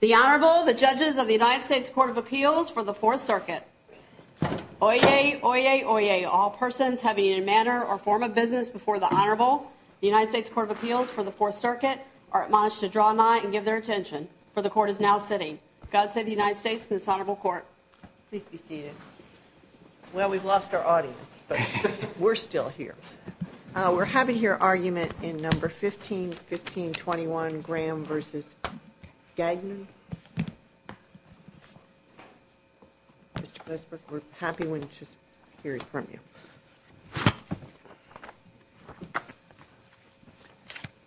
The Honorable, the Judges of the United States Court of Appeals for the Fourth Circuit. Oyez, oyez, oyez, all persons having a manner or form of business before the Honorable, the United States Court of Appeals for the Fourth Circuit, are admonished to draw nigh and give their attention, for the Court is now sitting. God save the United States and this Honorable Court. Please be seated. Well, we've lost our audience, but we're still here. We're having here argument in No. 151521, Graham v. Gagnon. Mr. Glasberg, we're happy to hear from you.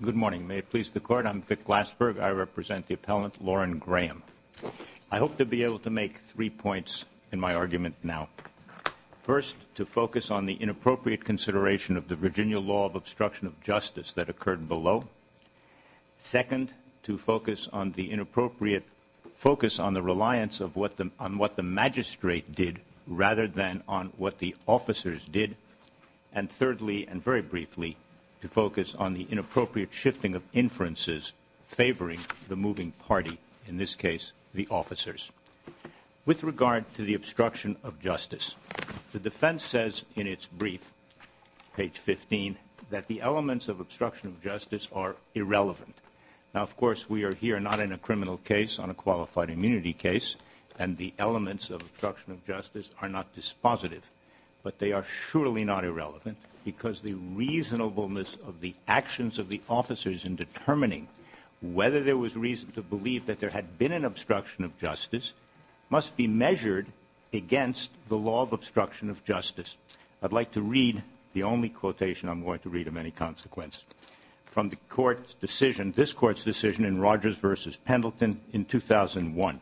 Good morning. May it please the Court, I'm Vic Glasberg. I represent the appellant, Lauren Graham. I hope to be able to make three points in my argument now. First, to focus on the inappropriate consideration of the Virginia law of obstruction of justice that occurred below. Second, to focus on the inappropriate focus on the reliance on what the magistrate did, rather than on what the officers did. And thirdly, and very briefly, to focus on the inappropriate shifting of inferences favoring the moving party, in this case, the officers. With regard to the obstruction of justice, the defense says in its brief, page 15, that the elements of obstruction of justice are irrelevant. Now, of course, we are here not in a criminal case, on a qualified immunity case, and the elements of obstruction of justice are not dispositive. But they are surely not irrelevant, because the reasonableness of the actions of the officers in determining whether there was reason to believe that there had been an obstruction of justice must be measured against the law of obstruction of justice. I'd like to read the only quotation I'm going to read of any consequence from the Court's decision, this Court's decision in Rogers v. Pendleton in 2001.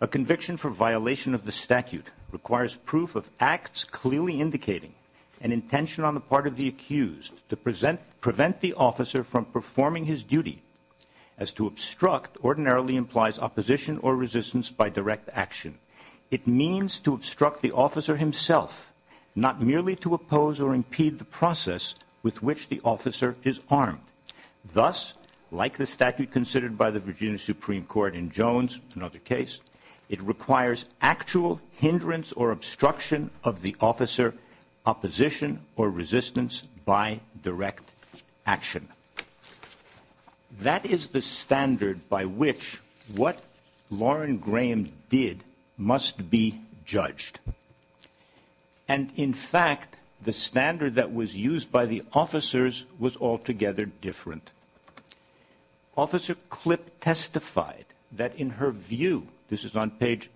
A conviction for violation of the statute requires proof of acts clearly indicating an intention on the part of the accused to prevent the officer from performing his duty, as to obstruct ordinarily implies opposition or resistance by direct action. It means to obstruct the officer himself, not merely to oppose or impede the process with which the officer is armed. Thus, like the statute considered by the Virginia Supreme Court in Jones, another case, it requires actual hindrance or obstruction of the officer, opposition or resistance by direct action. That is the standard by which what Lauren Graham did must be judged. And, in fact, the standard that was used by the officers was altogether different. Officer Clipp testified that in her view, this is on page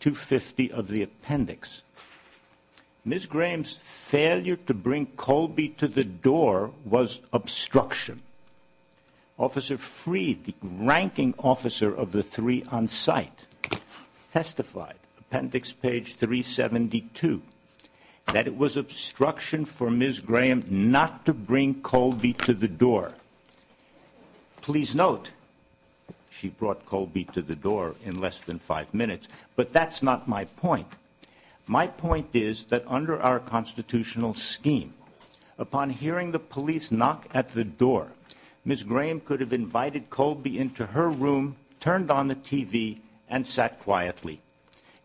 250 of the appendix, Ms. Graham's failure to bring Colby to the door was obstruction. Officer Freed, the ranking officer of the three on site, testified, appendix page 372, that it was obstruction for Ms. Graham not to bring Colby to the door. Please note, she brought Colby to the door in less than five minutes, but that's not my point. My point is that under our constitutional scheme, upon hearing the police knock at the door, Ms. Graham could have invited Colby into her room, turned on the TV, and sat quietly.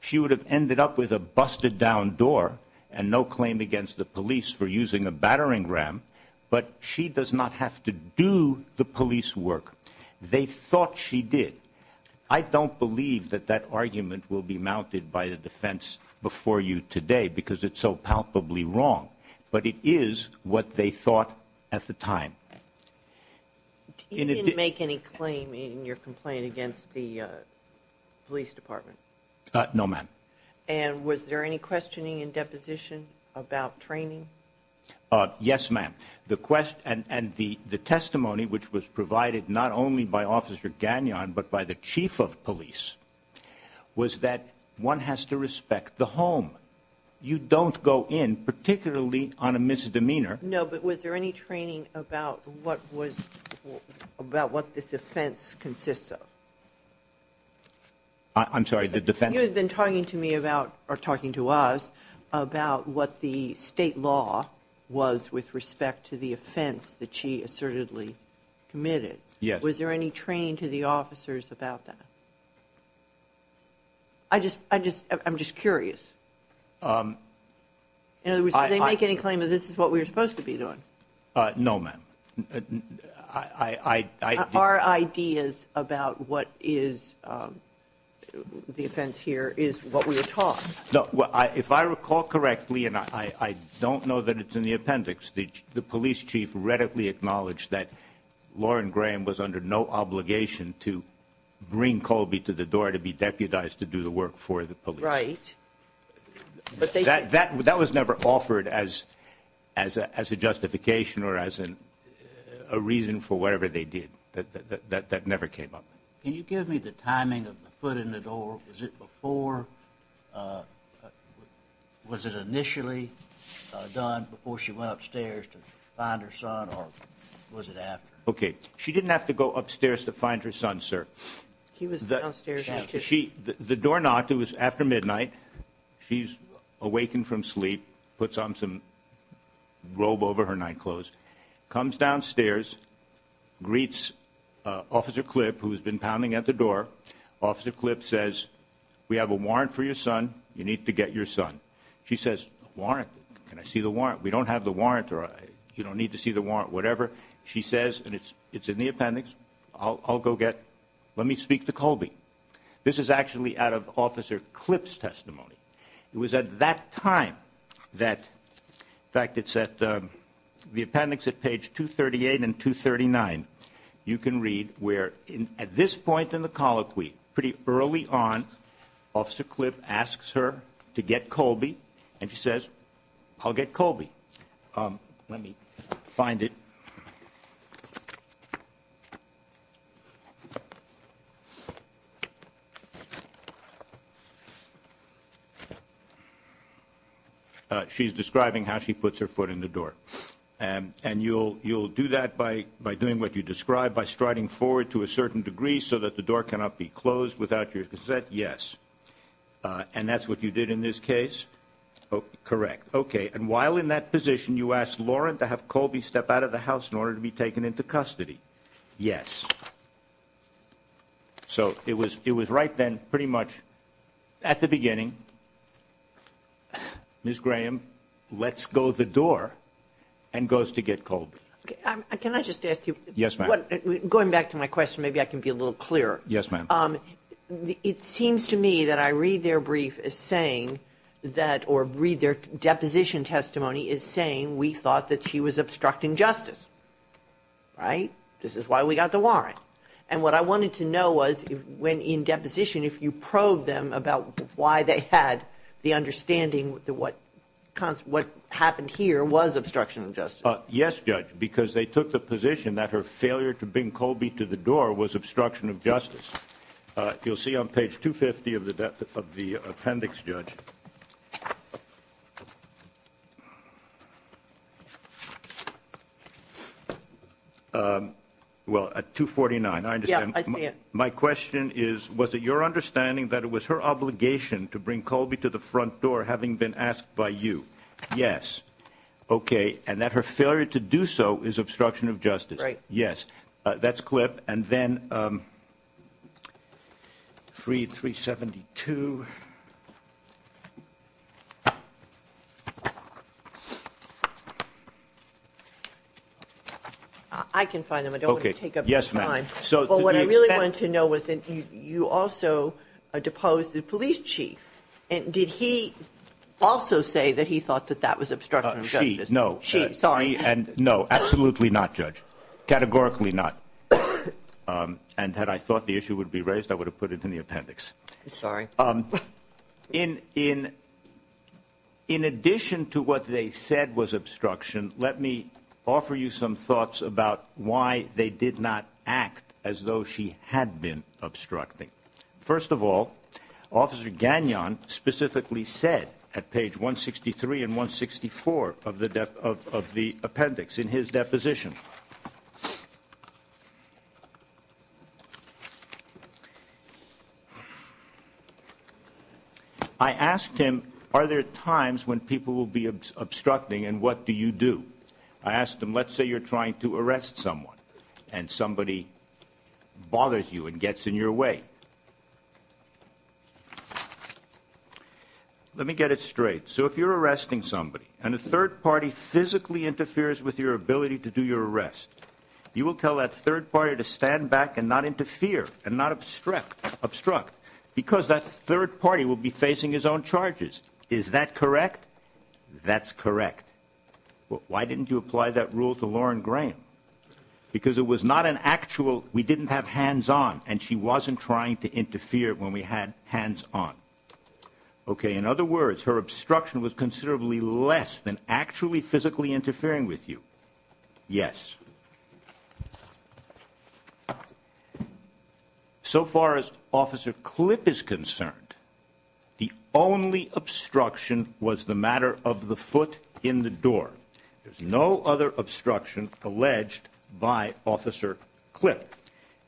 She would have ended up with a busted down door and no claim against the police for using a battering ram, but she does not have to do the police work. They thought she did. I don't believe that that argument will be mounted by the defense before you today because it's so palpably wrong, but it is what they thought at the time. You didn't make any claim in your complaint against the police department? No, ma'am. And was there any questioning in deposition about training? Yes, ma'am. And the testimony, which was provided not only by Officer Gagnon but by the chief of police, was that one has to respect the home. You don't go in, particularly on a misdemeanor. No, but was there any training about what this offense consists of? I'm sorry, the defense? You had been talking to me about, or talking to us, about what the state law was with respect to the offense that she assertedly committed. Yes. Was there any training to the officers about that? I'm just curious. In other words, did they make any claim that this is what we were supposed to be doing? No, ma'am. Our ideas about what is the offense here is what we were taught. If I recall correctly, and I don't know that it's in the appendix, the police chief readily acknowledged that Lauren Graham was under no obligation to bring Colby to the door to be deputized to do the work for the police. Right. That was never offered as a justification or as a reason for whatever they did. That never came up. Can you give me the timing of the foot in the door? Was it initially done before she went upstairs to find her son, or was it after? Okay. She didn't have to go upstairs to find her son, sir. He was downstairs. The door knocked. It was after midnight. She's awakened from sleep, puts on some robe over her nightclothes, comes downstairs, greets Officer Clipp, who's been pounding at the door. Officer Clipp says, we have a warrant for your son. You need to get your son. She says, warrant? Can I see the warrant? We don't have the warrant. You don't need to see the warrant, whatever. She says, and it's in the appendix, I'll go get. Let me speak to Colby. This is actually out of Officer Clipp's testimony. It was at that time that, in fact, it's at the appendix at page 238 and 239, you can read where at this point in the colloquy, pretty early on, Officer Clipp asks her to get Colby, and she says, I'll get Colby. Let me find it. She's describing how she puts her foot in the door. And you'll do that by doing what you described, by striding forward to a certain degree so that the door cannot be closed without your consent? Yes. And that's what you did in this case? Correct. Okay. And while in that position, you asked Lauren to have Colby step out of the house in order to be taken into custody? Yes. So it was right then, pretty much at the beginning, Ms. Graham lets go of the door and goes to get Colby. Can I just ask you? Yes, ma'am. Going back to my question, maybe I can be a little clearer. Yes, ma'am. It seems to me that I read their brief as saying that, or read their deposition testimony as saying we thought that she was obstructing justice. Right? This is why we got the warrant. And what I wanted to know was when in deposition, if you probed them about why they had the understanding that what happened here was obstruction of justice. Yes, Judge, because they took the position that her failure to bring Colby to the door was obstruction of justice. You'll see on page 250 of the appendix, Judge. Well, at 249, I understand. Yeah, I see it. My question is, was it your understanding that it was her obligation to bring Colby to the front door having been asked by you? Yes. Okay. And that her failure to do so is obstruction of justice. Right. Yes. That's clip. And then 3-372. I can find them. I don't want to take up your time. Yes, ma'am. So what I really wanted to know was that you also deposed the police chief. Did he also say that he thought that that was obstruction of justice? She. No. She. Sorry. No, absolutely not, Judge. Categorically not. And had I thought the issue would be raised, I would have put it in the appendix. Sorry. In addition to what they said was obstruction, let me offer you some thoughts about why they did not act as though she had been obstructing. First of all, Officer Gagnon specifically said at page 163 and 164 of the appendix in his deposition, I asked him, are there times when people will be obstructing and what do you do? I asked him, let's say you're trying to arrest someone and somebody bothers you and gets in your way. Let me get it straight. So if you're arresting somebody and a third party physically interferes with your ability to do your arrest, you will tell that third party to stand back and not interfere and not obstruct because that third party will be facing his own charges. Is that correct? That's correct. Why didn't you apply that rule to Lauren Graham? Because it was not an actual, we didn't have hands on and she wasn't trying to interfere when we had hands on. Okay. In other words, her obstruction was considerably less than actually physically interfering with you. Yes. Thank you. So far as Officer Clip is concerned, the only obstruction was the matter of the foot in the door. There's no other obstruction alleged by Officer Clip.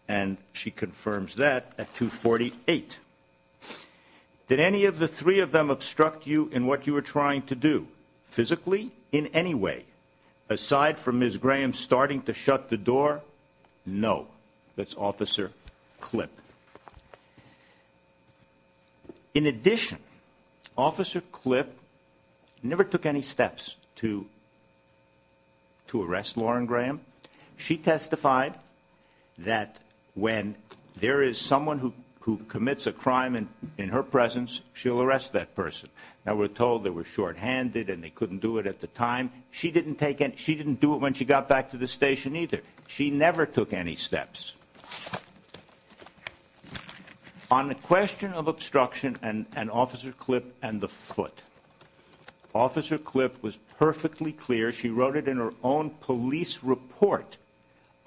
And she confirms that at 248. Did any of the three of them obstruct you in what you were trying to do physically in any way? Aside from Ms. Graham starting to shut the door, no. That's Officer Clip. In addition, Officer Clip never took any steps to arrest Lauren Graham. She testified that when there is someone who commits a crime in her presence, she'll arrest that person. Now we're told they were shorthanded and they couldn't do it at the time. She didn't do it when she got back to the station either. She never took any steps. On the question of obstruction and Officer Clip and the foot, Officer Clip was perfectly clear. She wrote it in her own police report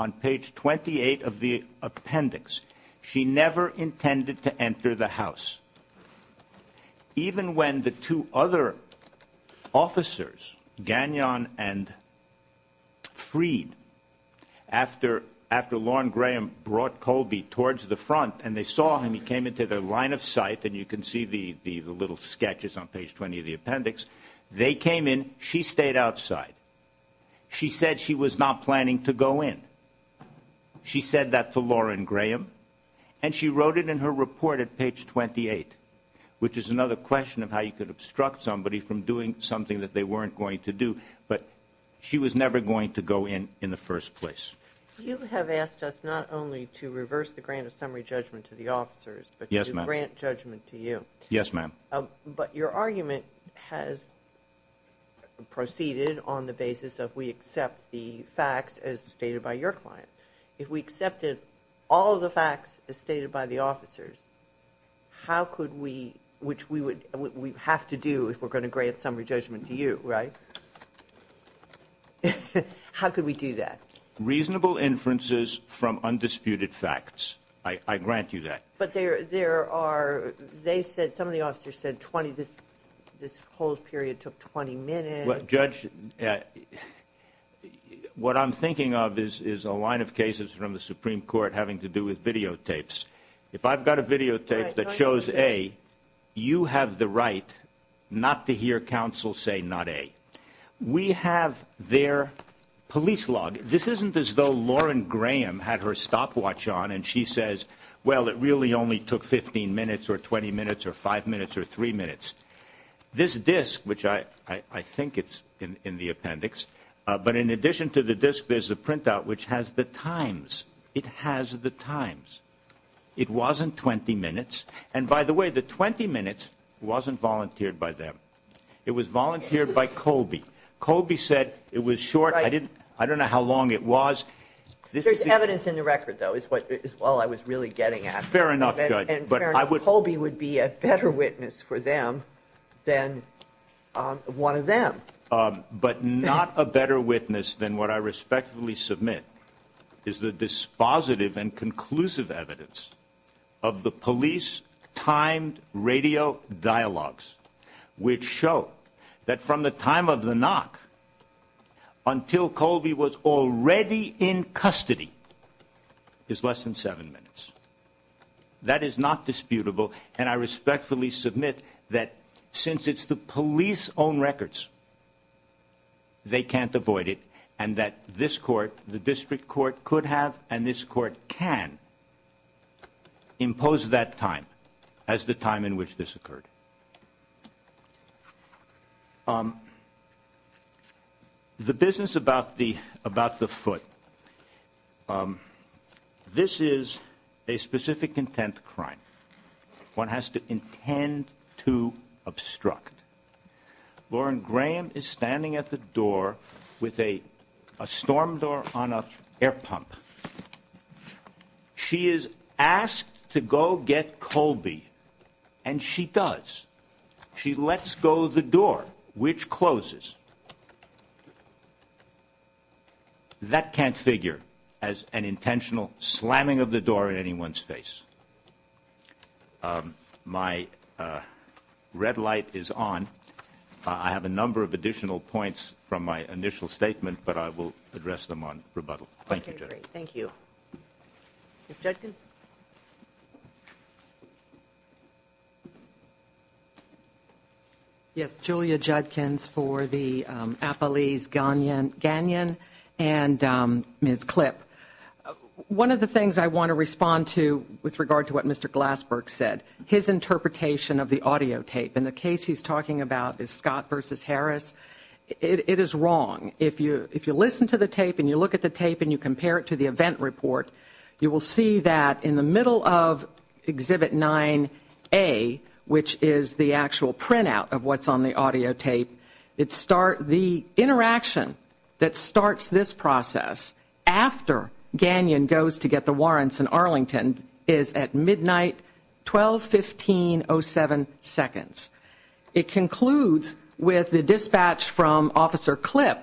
on page 28 of the appendix. She never intended to enter the house. Even when the two other officers, Gagnon and Freed, after Lauren Graham brought Colby towards the front and they saw him, he came into their line of sight, and you can see the little sketches on page 20 of the appendix, they came in, she stayed outside. She said she was not planning to go in. She said that to Lauren Graham, and she wrote it in her report at page 28, which is another question of how you could obstruct somebody from doing something that they weren't going to do, but she was never going to go in in the first place. You have asked us not only to reverse the grant of summary judgment to the officers, but to grant judgment to you. Yes, ma'am. But your argument has proceeded on the basis of we accept the facts as stated by your client. If we accepted all of the facts as stated by the officers, how could we, which we have to do if we're going to grant summary judgment to you, right? How could we do that? Reasonable inferences from undisputed facts. I grant you that. But there are, they said, some of the officers said 20, this whole period took 20 minutes. Judge, what I'm thinking of is a line of cases from the Supreme Court having to do with videotapes. If I've got a videotape that shows A, you have the right not to hear counsel say not A. We have their police log. This isn't as though Lauren Graham had her stopwatch on and she says, well, it really only took 15 minutes or 20 minutes or five minutes or three minutes. This disc, which I think it's in the appendix, but in addition to the disc, there's a printout which has the times. It has the times. It wasn't 20 minutes. And by the way, the 20 minutes wasn't volunteered by them. It was volunteered by Colby. Colby said it was short. I don't know how long it was. There's evidence in the record, though, is all I was really getting at. Fair enough, Judge. Colby would be a better witness for them than one of them. But not a better witness than what I respectfully submit is the dispositive and conclusive evidence of the police-timed radio dialogues, which show that from the time of the knock until Colby was already in custody is less than seven minutes. That is not disputable. And I respectfully submit that since it's the police's own records, they can't avoid it, and that this court, the district court, could have and this court can impose that time as the time in which this occurred. The business about the foot, this is a specific intent crime. One has to intend to obstruct. Lauren Graham is standing at the door with a storm door on an air pump. She is asked to go get Colby, and she does. She lets go of the door, which closes. That can't figure as an intentional slamming of the door in anyone's face. My red light is on. I have a number of additional points from my initial statement, but I will address them on rebuttal. Thank you, Judge. Thank you. Ms. Judkin? Yes, Julia Judkins for the Appalese-Ganyon and Ms. Klipp. One of the things I want to respond to with regard to what Mr. Glassberg said, his interpretation of the audio tape. And the case he's talking about is Scott v. Harris. It is wrong. If you listen to the tape and you look at the tape and you compare it to the event report, you will see that in the middle of Exhibit 9A, which is the actual printout of what's on the audio tape, the interaction that starts this process after Ganyon goes to get the warrants in Arlington is at midnight, 12-15-07 seconds. It concludes with the dispatch from Officer Klipp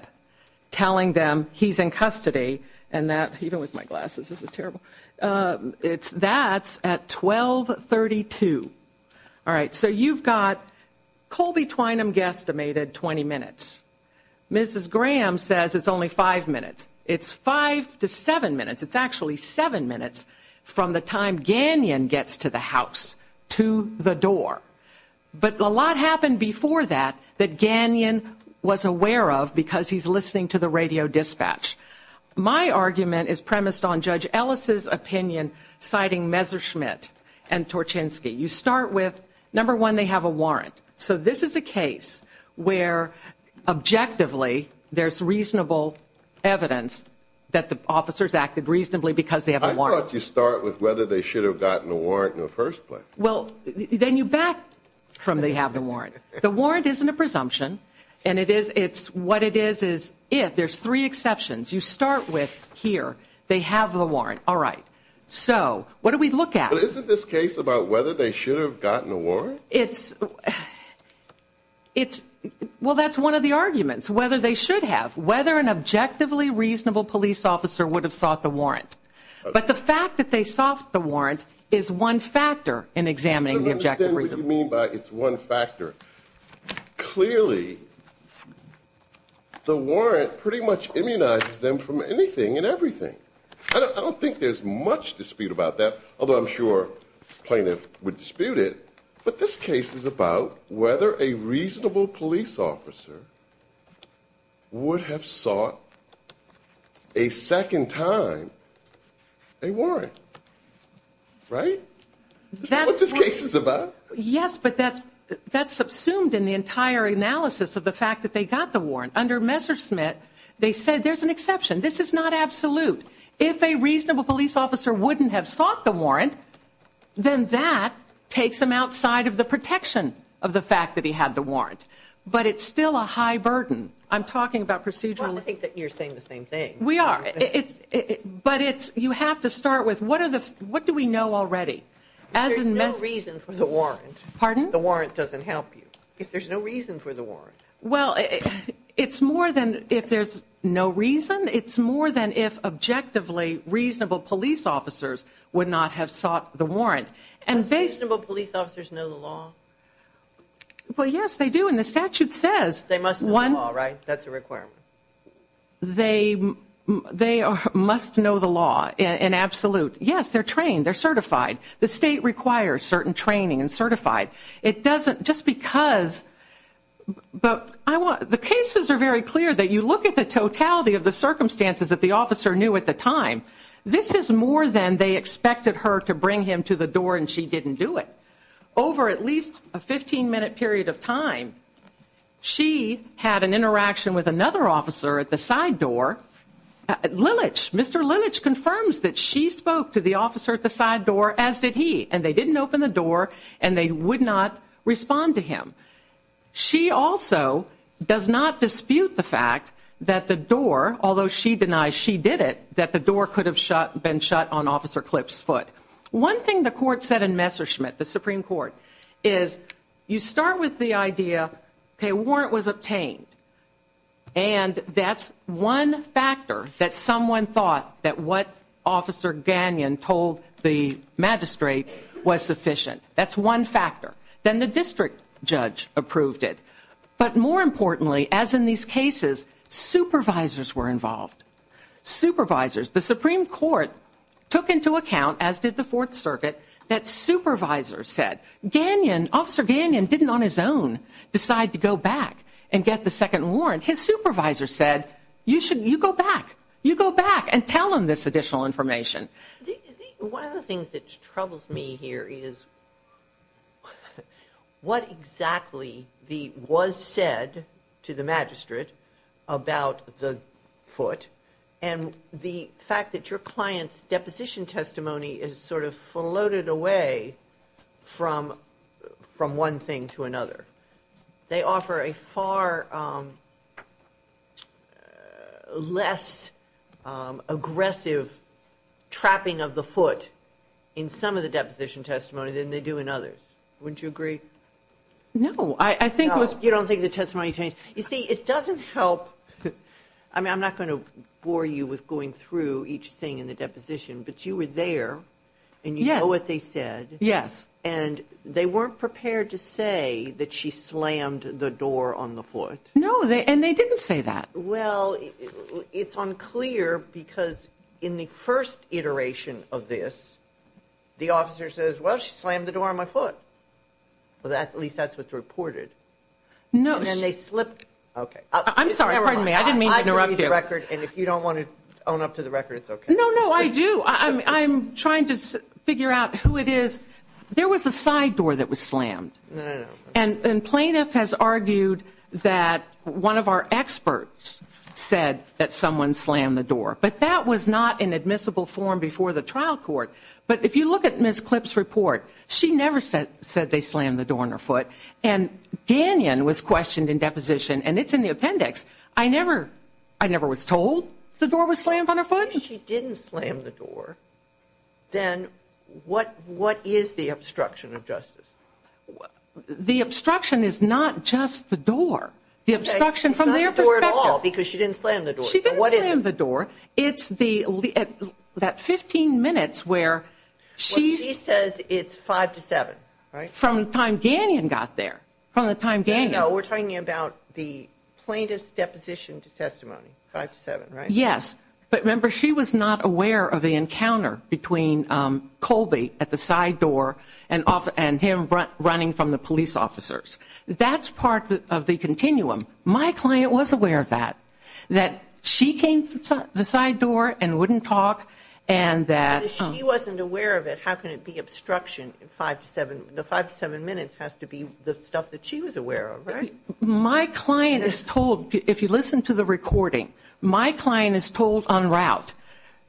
telling them he's in custody, and that's at 12-32. All right, so you've got Colby Twynham guesstimated 20 minutes. Mrs. Graham says it's only five minutes. It's five to seven minutes. It's actually seven minutes from the time Ganyon gets to the house, to the door. But a lot happened before that that Ganyon was aware of because he's listening to the radio dispatch. My argument is premised on Judge Ellis' opinion, citing Messerschmitt and Torchinsky. You start with, number one, they have a warrant. So this is a case where, objectively, there's reasonable evidence that the officers acted reasonably because they have a warrant. I thought you start with whether they should have gotten a warrant in the first place. Well, then you back from they have the warrant. The warrant isn't a presumption. What it is is if there's three exceptions. You start with, here, they have the warrant. All right. So what do we look at? But isn't this case about whether they should have gotten a warrant? Well, that's one of the arguments, whether they should have, whether an objectively reasonable police officer would have sought the warrant. But the fact that they sought the warrant is one factor in examining the objective reason. I don't understand what you mean by it's one factor. Clearly, the warrant pretty much immunizes them from anything and everything. I don't think there's much dispute about that, although I'm sure plaintiffs would dispute it. But this case is about whether a reasonable police officer would have sought a second time a warrant. Right? That's what this case is about. Yes, but that's subsumed in the entire analysis of the fact that they got the warrant. Under Messerschmidt, they said there's an exception. This is not absolute. If a reasonable police officer wouldn't have sought the warrant, then that takes them outside of the protection of the fact that he had the warrant. But it's still a high burden. I'm talking about procedural. Well, I think that you're saying the same thing. We are. But you have to start with what do we know already? There's no reason for the warrant. Pardon? The warrant doesn't help you. There's no reason for the warrant. Well, it's more than if there's no reason. It's more than if, objectively, reasonable police officers would not have sought the warrant. Do reasonable police officers know the law? Well, yes, they do, and the statute says. They must know the law, right? That's a requirement. They must know the law in absolute. Yes, they're trained. They're certified. The state requires certain training and certified. It doesn't just because, but the cases are very clear that you look at the totality of the circumstances that the officer knew at the time. This is more than they expected her to bring him to the door, and she didn't do it. Over at least a 15-minute period of time, she had an interaction with another officer at the side door. Mr. Lilich confirms that she spoke to the officer at the side door, as did he, and they didn't open the door and they would not respond to him. She also does not dispute the fact that the door, although she denies she did it, that the door could have been shut on Officer Clipp's foot. One thing the court said in Messerschmitt, the Supreme Court, is you start with the idea, okay, a warrant was obtained, and that's one factor that someone thought that what Officer Gagnon told the magistrate was sufficient. That's one factor. Then the district judge approved it. But more importantly, as in these cases, supervisors were involved. Supervisors. The Supreme Court took into account, as did the Fourth Circuit, that supervisors said, Officer Gagnon didn't on his own decide to go back and get the second warrant. His supervisor said, you go back. You go back and tell him this additional information. One of the things that troubles me here is what exactly was said to the magistrate about the foot, and the fact that your client's deposition testimony is sort of floated away from one thing to another. They offer a far less aggressive trapping of the foot in some of the deposition testimonies than they do in others. Wouldn't you agree? No. You don't think the testimony changed? You see, it doesn't help. I mean, I'm not going to bore you with going through each thing in the deposition, but you were there, and you know what they said. Yes. And they weren't prepared to say that she slammed the door on the foot. No, and they didn't say that. Well, it's unclear because in the first iteration of this, the officer says, well, she slammed the door on my foot. At least that's what's reported. No. And then they slipped. Okay. I'm sorry, pardon me. I didn't mean to interrupt you. I believe the record, and if you don't want to own up to the record, it's okay. No, no, I do. I'm trying to figure out who it is. There was a side door that was slammed. No, no, no. And plaintiff has argued that one of our experts said that someone slammed the door, but that was not an admissible form before the trial court. But if you look at Ms. Clipp's report, she never said they slammed the door on her foot. And Gagnon was questioned in deposition, and it's in the appendix. I never was told the door was slammed on her foot. If she didn't slam the door, then what is the obstruction of justice? The obstruction is not just the door. The obstruction from their perspective. It's not the door at all because she didn't slam the door. She didn't slam the door. It's that 15 minutes where she says it's 5 to 7, right? No, we're talking about the plaintiff's deposition to testimony, 5 to 7, right? Yes. But remember, she was not aware of the encounter between Colby at the side door and him running from the police officers. That's part of the continuum. My client was aware of that, that she came through the side door and wouldn't talk. If she wasn't aware of it, how can it be obstruction? The 5 to 7 minutes has to be the stuff that she was aware of, right? My client is told, if you listen to the recording, my client is told en route.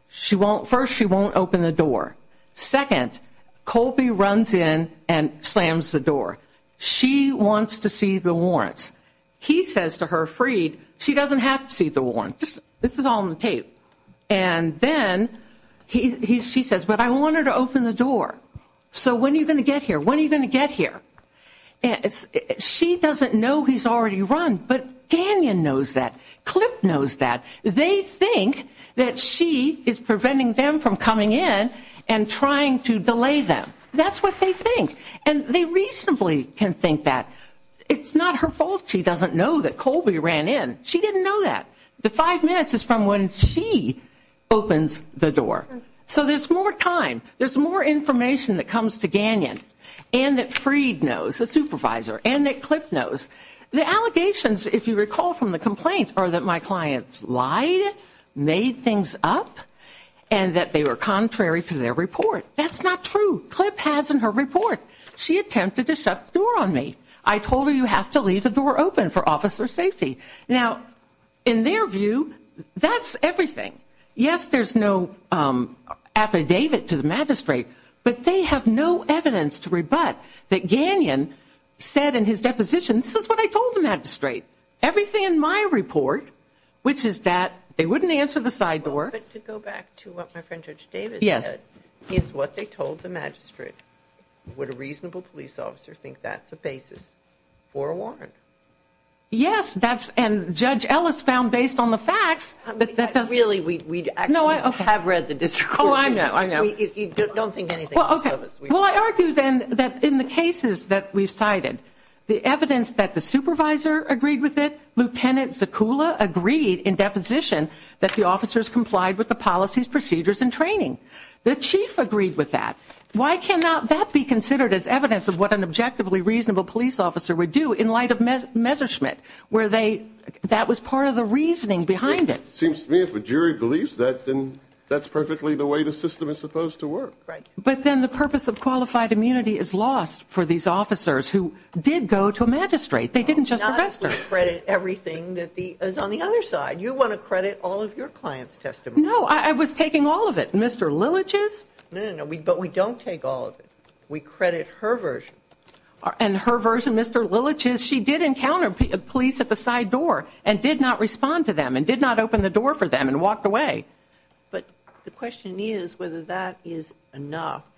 First, she won't open the door. Second, Colby runs in and slams the door. She wants to see the warrants. He says to her, Freed, she doesn't have to see the warrants. This is all on the tape. And then she says, but I want her to open the door. So when are you going to get here? When are you going to get here? She doesn't know he's already run, but Gannon knows that. Clip knows that. They think that she is preventing them from coming in and trying to delay them. That's what they think. And they reasonably can think that. It's not her fault she doesn't know that Colby ran in. She didn't know that. The 5 minutes is from when she opens the door. So there's more time. There's more information that comes to Gannon and that Freed knows, the supervisor, and that Clip knows. The allegations, if you recall from the complaint, are that my clients lied, made things up, and that they were contrary to their report. That's not true. Clip has in her report. She attempted to shut the door on me. I told her you have to leave the door open for officer safety. Now, in their view, that's everything. Yes, there's no affidavit to the magistrate, but they have no evidence to rebut that Gannon said in his deposition, this is what I told the magistrate. Everything in my report, which is that they wouldn't answer the side door. To go back to what my friend Judge Davis said, it's what they told the magistrate. Would a reasonable police officer think that's a basis for a warrant? Yes, and Judge Ellis found based on the facts. Really, we actually have read the district court. Oh, I know, I know. Don't think anything else of us. Well, I argue then that in the cases that we've cited, the evidence that the supervisor agreed with it, Lieutenant Zicula agreed in deposition that the officers complied with the policies, procedures, and training. The chief agreed with that. Why cannot that be considered as evidence of what an objectively reasonable police officer would do in light of Messerschmitt, where that was part of the reasoning behind it? It seems to me if a jury believes that, then that's perfectly the way the system is supposed to work. But then the purpose of qualified immunity is lost for these officers who did go to a magistrate. They didn't just arrest her. Not if we credit everything that is on the other side. You want to credit all of your clients' testimony. No, I was taking all of it. Mr. Lilich's? No, no, no, but we don't take all of it. We credit her version. And her version, Mr. Lilich's, she did encounter police at the side door and did not respond to them and did not open the door for them and walked away. But the question is whether that is enough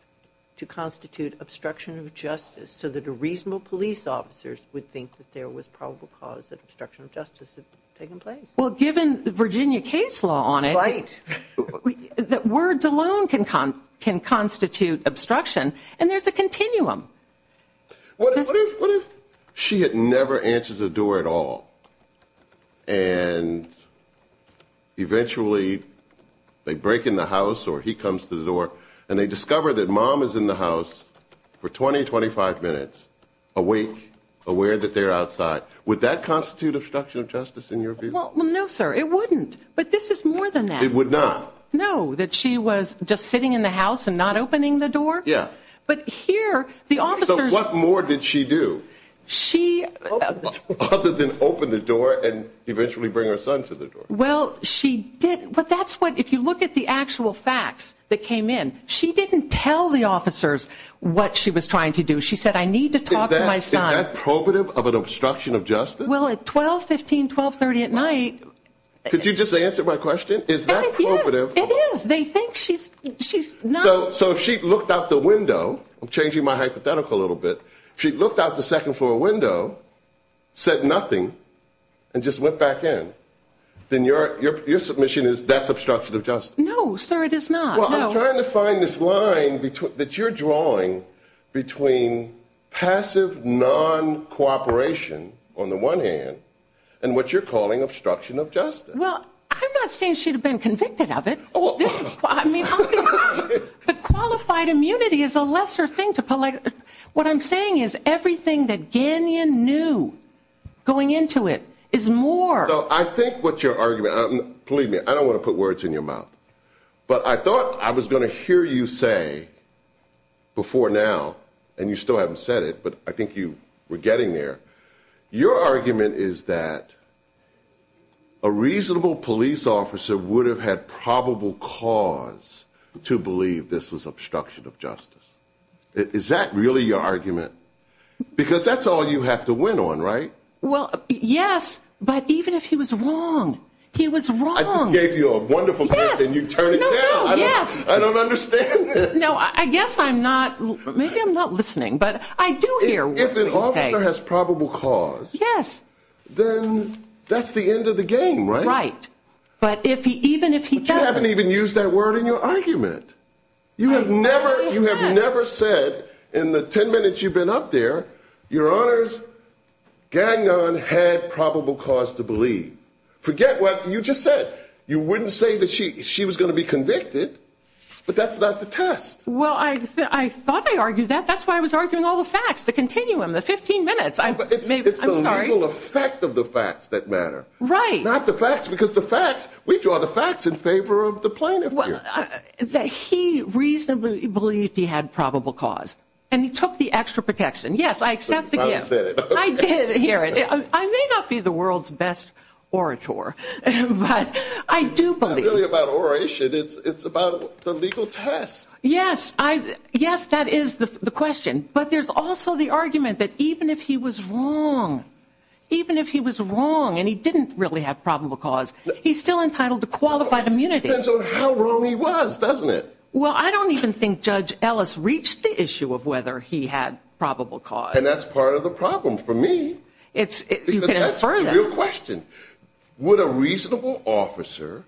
to constitute obstruction of justice so that a reasonable police officer would think that there was probable cause that obstruction of justice had taken place. Well, given Virginia case law on it. Right. That words alone can constitute obstruction. And there's a continuum. What if she had never answered the door at all and eventually they break in the house or he comes to the door and they discover that mom is in the house for 20, 25 minutes, awake, aware that they're outside. Would that constitute obstruction of justice in your view? Well, no, sir, it wouldn't. But this is more than that. It would not. No, that she was just sitting in the house and not opening the door. Yeah. But here the officers. So what more did she do other than open the door and eventually bring her son to the door? Well, she didn't. But that's what, if you look at the actual facts that came in, she didn't tell the officers what she was trying to do. She said I need to talk to my son. Is that probative of an obstruction of justice? Well, at 12, 15, 12, 30 at night. Could you just answer my question? Is that probative? It is. They think she's not. So if she looked out the window, I'm changing my hypothetical a little bit, if she looked out the second floor window, said nothing, and just went back in, then your submission is that's obstruction of justice. No, sir, it is not. Well, I'm trying to find this line that you're drawing between passive non-cooperation on the one hand and what you're calling obstruction of justice. Well, I'm not saying she would have been convicted of it. But qualified immunity is a lesser thing. What I'm saying is everything that Gagnon knew going into it is more. So I think what your argument, believe me, I don't want to put words in your mouth, but I thought I was going to hear you say before now, and you still haven't said it, but I think you were getting there. Your argument is that a reasonable police officer would have had probable cause to believe this was obstruction of justice. Is that really your argument? Because that's all you have to win on, right? Well, yes, but even if he was wrong, he was wrong. I just gave you a wonderful case and you turn it down. No, no, yes. I don't understand. No, I guess I'm not. Maybe I'm not listening, but I do hear what you say. If a police officer has probable cause, then that's the end of the game, right? Right. But even if he doesn't. But you haven't even used that word in your argument. You have never said in the 10 minutes you've been up there, your honors, Gagnon had probable cause to believe. Forget what you just said. You wouldn't say that she was going to be convicted, but that's not the test. Well, I thought I argued that. That's why I was arguing all the facts, the continuum, the 15 minutes. I'm sorry. It's the legal effect of the facts that matter. Right. Not the facts because the facts, we draw the facts in favor of the plaintiff. That he reasonably believed he had probable cause. And he took the extra protection. Yes, I accept the gift. I did hear it. I may not be the world's best orator, but I do believe. It's not really about oration. It's about the legal test. Yes, that is the question. But there's also the argument that even if he was wrong, even if he was wrong and he didn't really have probable cause, he's still entitled to qualified immunity. It depends on how wrong he was, doesn't it? Well, I don't even think Judge Ellis reached the issue of whether he had probable cause. And that's part of the problem for me. Because that's the real question. Would a reasonable officer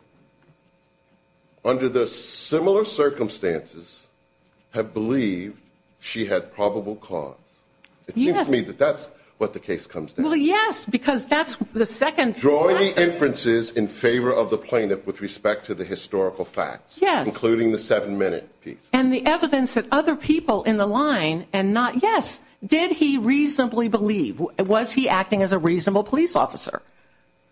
under the similar circumstances have believed she had probable cause? It seems to me that that's what the case comes down to. Well, yes, because that's the second. Drawing inferences in favor of the plaintiff with respect to the historical facts. Yes. Including the seven-minute piece. And the evidence that other people in the line and not, yes, did he reasonably believe. Was he acting as a reasonable police officer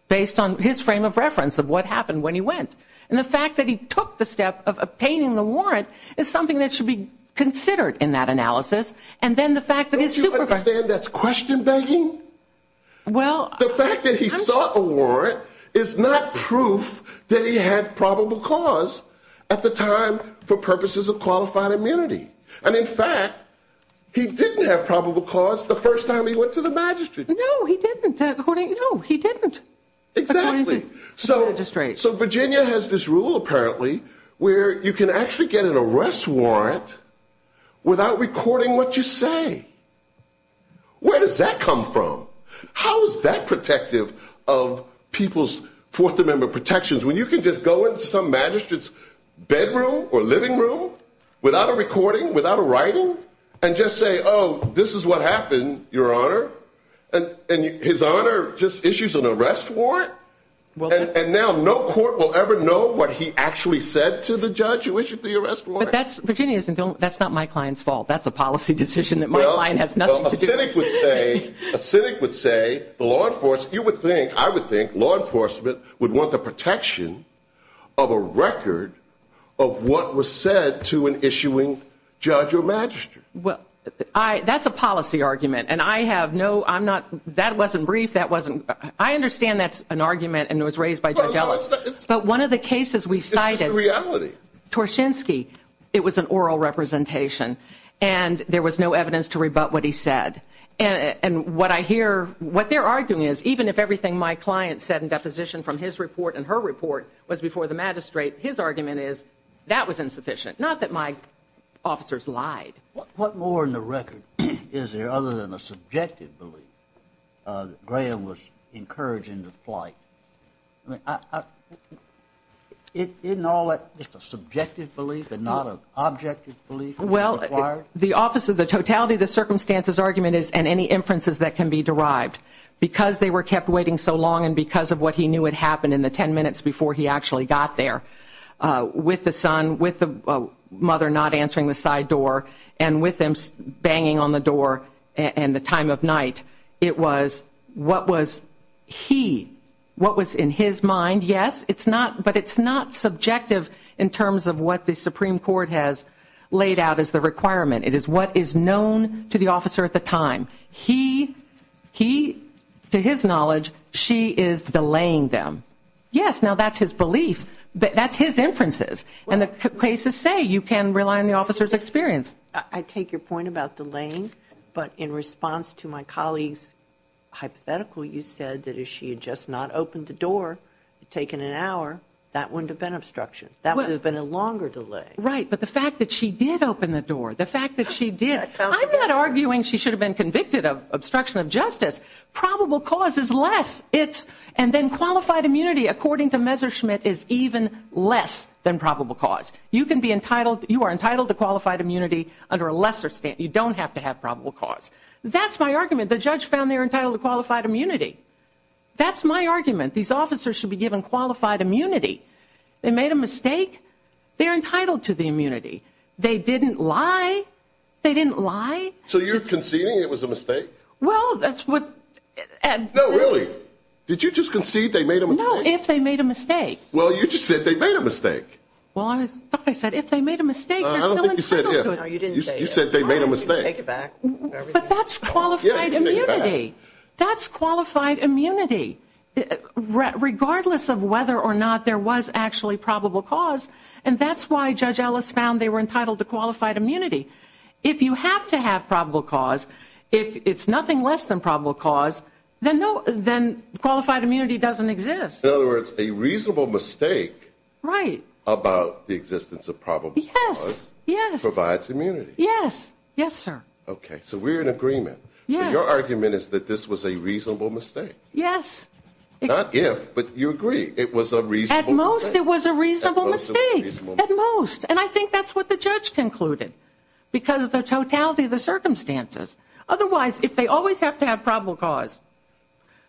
based on his frame of reference of what happened when he went? And the fact that he took the step of obtaining the warrant is something that should be considered in that analysis. And then the fact that his supervisor. Don't you understand that's question begging? Well. The fact that he sought a warrant is not proof that he had probable cause at the time for purposes of qualified immunity. And in fact, he didn't have probable cause the first time he went to the magistrate. No, he didn't. No, he didn't. Exactly. So just right. So Virginia has this rule, apparently, where you can actually get an arrest warrant without recording what you say. Where does that come from? How is that protective of people's Fourth Amendment protections when you can just go into some magistrate's bedroom or living room without a recording? Without a writing and just say, oh, this is what happened, Your Honor. And his honor just issues an arrest warrant. Well, and now no court will ever know what he actually said to the judge who issued the arrest. But that's Virginia's. And that's not my client's fault. That's a policy decision that my line has nothing to say. A cynic would say the law enforcement you would think I would think law enforcement would want the protection of a record of what was said to an issuing judge or magistrate. Well, that's a policy argument. And I have no I'm not. That wasn't brief. That wasn't. I understand. That's an argument. And it was raised by. But one of the cases we cited reality Torshinsky. It was an oral representation. And there was no evidence to rebut what he said. And what I hear what they're arguing is, even if everything my client said in deposition from his report and her report was before the magistrate, his argument is that was insufficient. Not that my officers lied. What more in the record is there other than a subjective belief? Graham was encouraging the flight. I mean, in all that, just a subjective belief and not an objective belief. Well, the office of the totality of the circumstances argument is and any inferences that can be derived because they were kept waiting so long. And because of what he knew, it happened in the ten minutes before he actually got there with the son, with the mother not answering the side door and with them banging on the door. And the time of night, it was what was he what was in his mind? Yes, it's not. But it's not subjective in terms of what the Supreme Court has laid out as the requirement. It is what is known to the officer at the time. He he to his knowledge, she is delaying them. Yes. Now, that's his belief. But that's his inferences. And the cases say you can rely on the officer's experience. I take your point about delaying. But in response to my colleague's hypothetical, you said that if she had just not opened the door, taken an hour, that wouldn't have been obstruction. That would have been a longer delay. Right. But the fact that she did open the door, the fact that she did. I'm not arguing she should have been convicted of obstruction of justice. Probable cause is less. It's and then qualified immunity, according to Messerschmidt, is even less than probable cause. You can be entitled you are entitled to qualified immunity under a lesser state. You don't have to have probable cause. That's my argument. The judge found they're entitled to qualified immunity. That's my argument. These officers should be given qualified immunity. They made a mistake. They're entitled to the immunity. They didn't lie. They didn't lie. So you're conceding it was a mistake? Well, that's what. And no, really. Did you just concede they made a mistake? Well, you just said they made a mistake. Well, I thought I said if they made a mistake. You said they made a mistake. But that's qualified immunity. That's qualified immunity. Regardless of whether or not there was actually probable cause. And that's why Judge Ellis found they were entitled to qualified immunity. If you have to have probable cause, if it's nothing less than probable cause, then qualified immunity doesn't exist. In other words, a reasonable mistake. Right. About the existence of probable cause. Yes. Provides immunity. Yes. Yes, sir. Okay. So we're in agreement. Your argument is that this was a reasonable mistake. Yes. Not if, but you agree it was a reasonable mistake. At most it was a reasonable mistake. At most. And I think that's what the judge concluded. Because of the totality of the circumstances. Otherwise, if they always have to have probable cause.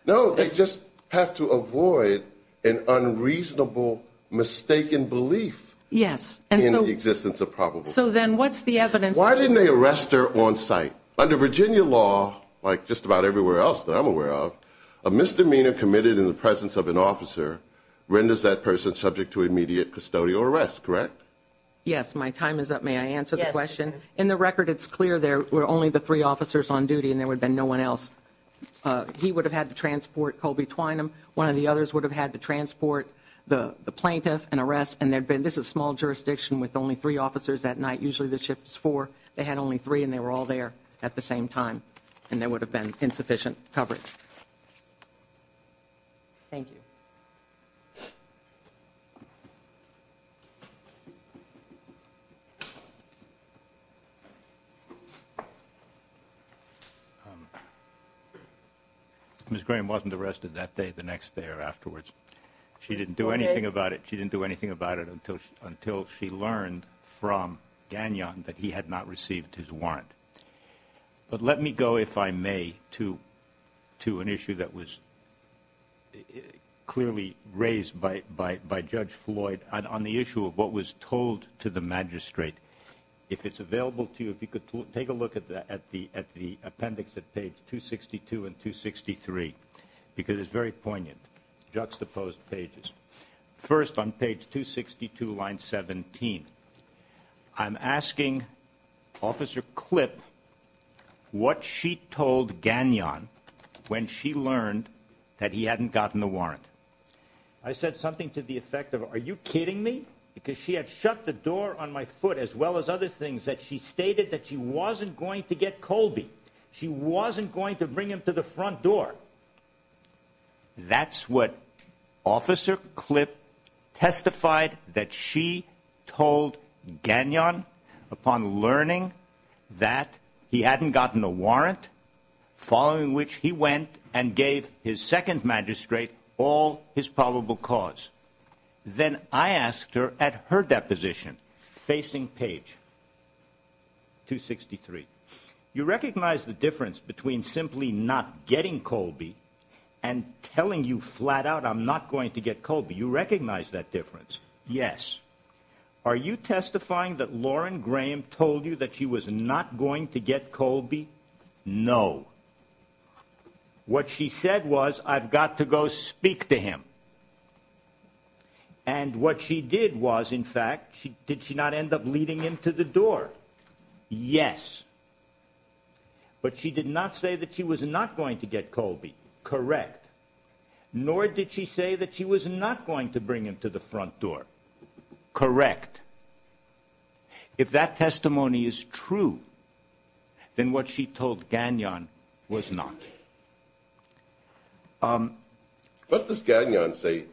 No, they just have to avoid an unreasonable mistaken belief. Yes. In the existence of probable cause. So then what's the evidence? Why didn't they arrest her on sight? Under Virginia law, like just about everywhere else that I'm aware of, a misdemeanor committed in the presence of an officer renders that person subject to immediate custodial arrest. Correct? Yes. My time is up. May I answer the question? Yes. On the record, it's clear there were only the three officers on duty and there would have been no one else. He would have had to transport Colby Twynham. One of the others would have had to transport the plaintiff and arrest. And there'd been, this is small jurisdiction with only three officers that night. Usually the shift is four. They had only three and they were all there at the same time. And there would have been insufficient coverage. Thank you. Thank you. Ms. Graham wasn't arrested that day, the next day or afterwards. She didn't do anything about it. She didn't do anything about it until she learned from Gagnon that he had not received his warrant. But let me go, if I may, to an issue that was clearly raised by Judge Floyd on the issue of what was told to the magistrate. If it's available to you, if you could take a look at the appendix at page 262 and 263, because it's very poignant, juxtaposed pages. First on page 262, line 17, I'm asking Officer Clipp what she told Gagnon when she learned that he hadn't gotten the warrant. I said something to the effect of, are you kidding me? Because she had shut the door on my foot as well as other things that she stated that she wasn't going to get Colby. She wasn't going to bring him to the front door. That's what Officer Clipp testified that she told Gagnon upon learning that he hadn't gotten the warrant, following which he went and gave his second magistrate all his probable cause. Then I asked her at her deposition, facing page 263, you recognize the difference between simply not getting Colby and telling you flat out I'm not going to get Colby? You recognize that difference? Yes. Are you testifying that Lauren Graham told you that she was not going to get Colby? No. What she said was, I've got to go speak to him. And what she did was, in fact, did she not end up leading him to the door? Yes. But she did not say that she was not going to get Colby. Correct. Nor did she say that she was not going to bring him to the front door. Correct. If that testimony is true, then what she told Gagnon was not. What does Gagnon say?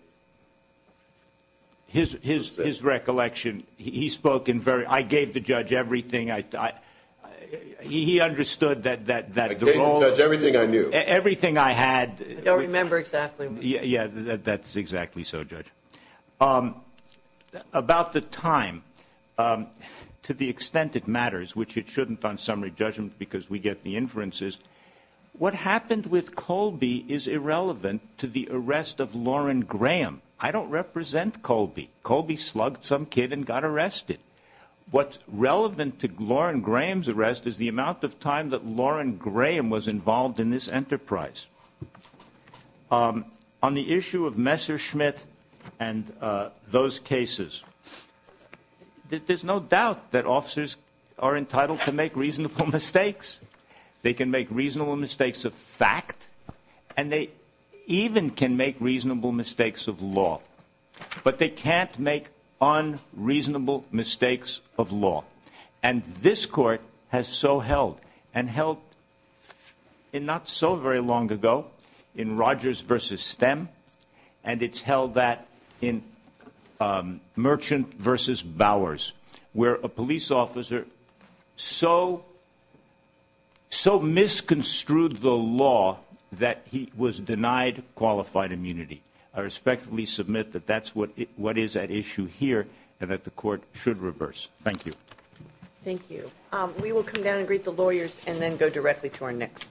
His recollection, he spoke in very, I gave the judge everything. He understood that. I gave the judge everything I knew. Everything I had. I don't remember exactly. Yeah, that's exactly so, Judge. About the time, to the extent it matters, which it shouldn't on summary judgment because we get the inferences. What happened with Colby is irrelevant to the arrest of Lauren Graham. I don't represent Colby. Colby slugged some kid and got arrested. What's relevant to Lauren Graham's arrest is the amount of time that Lauren Graham was involved in this enterprise. On the issue of Messerschmitt and those cases, there's no doubt that officers are entitled to make reasonable mistakes. They can make reasonable mistakes of fact and they even can make reasonable mistakes of law. But they can't make unreasonable mistakes of law. And this court has so held and held in not so very long ago in Rogers versus Stem. And it's held that in Merchant versus Bowers, where a police officer so. So misconstrued the law that he was denied qualified immunity. I respectfully submit that that's what what is at issue here and that the court should reverse. Thank you. Thank you. We will come down and greet the lawyers and then go directly to our next.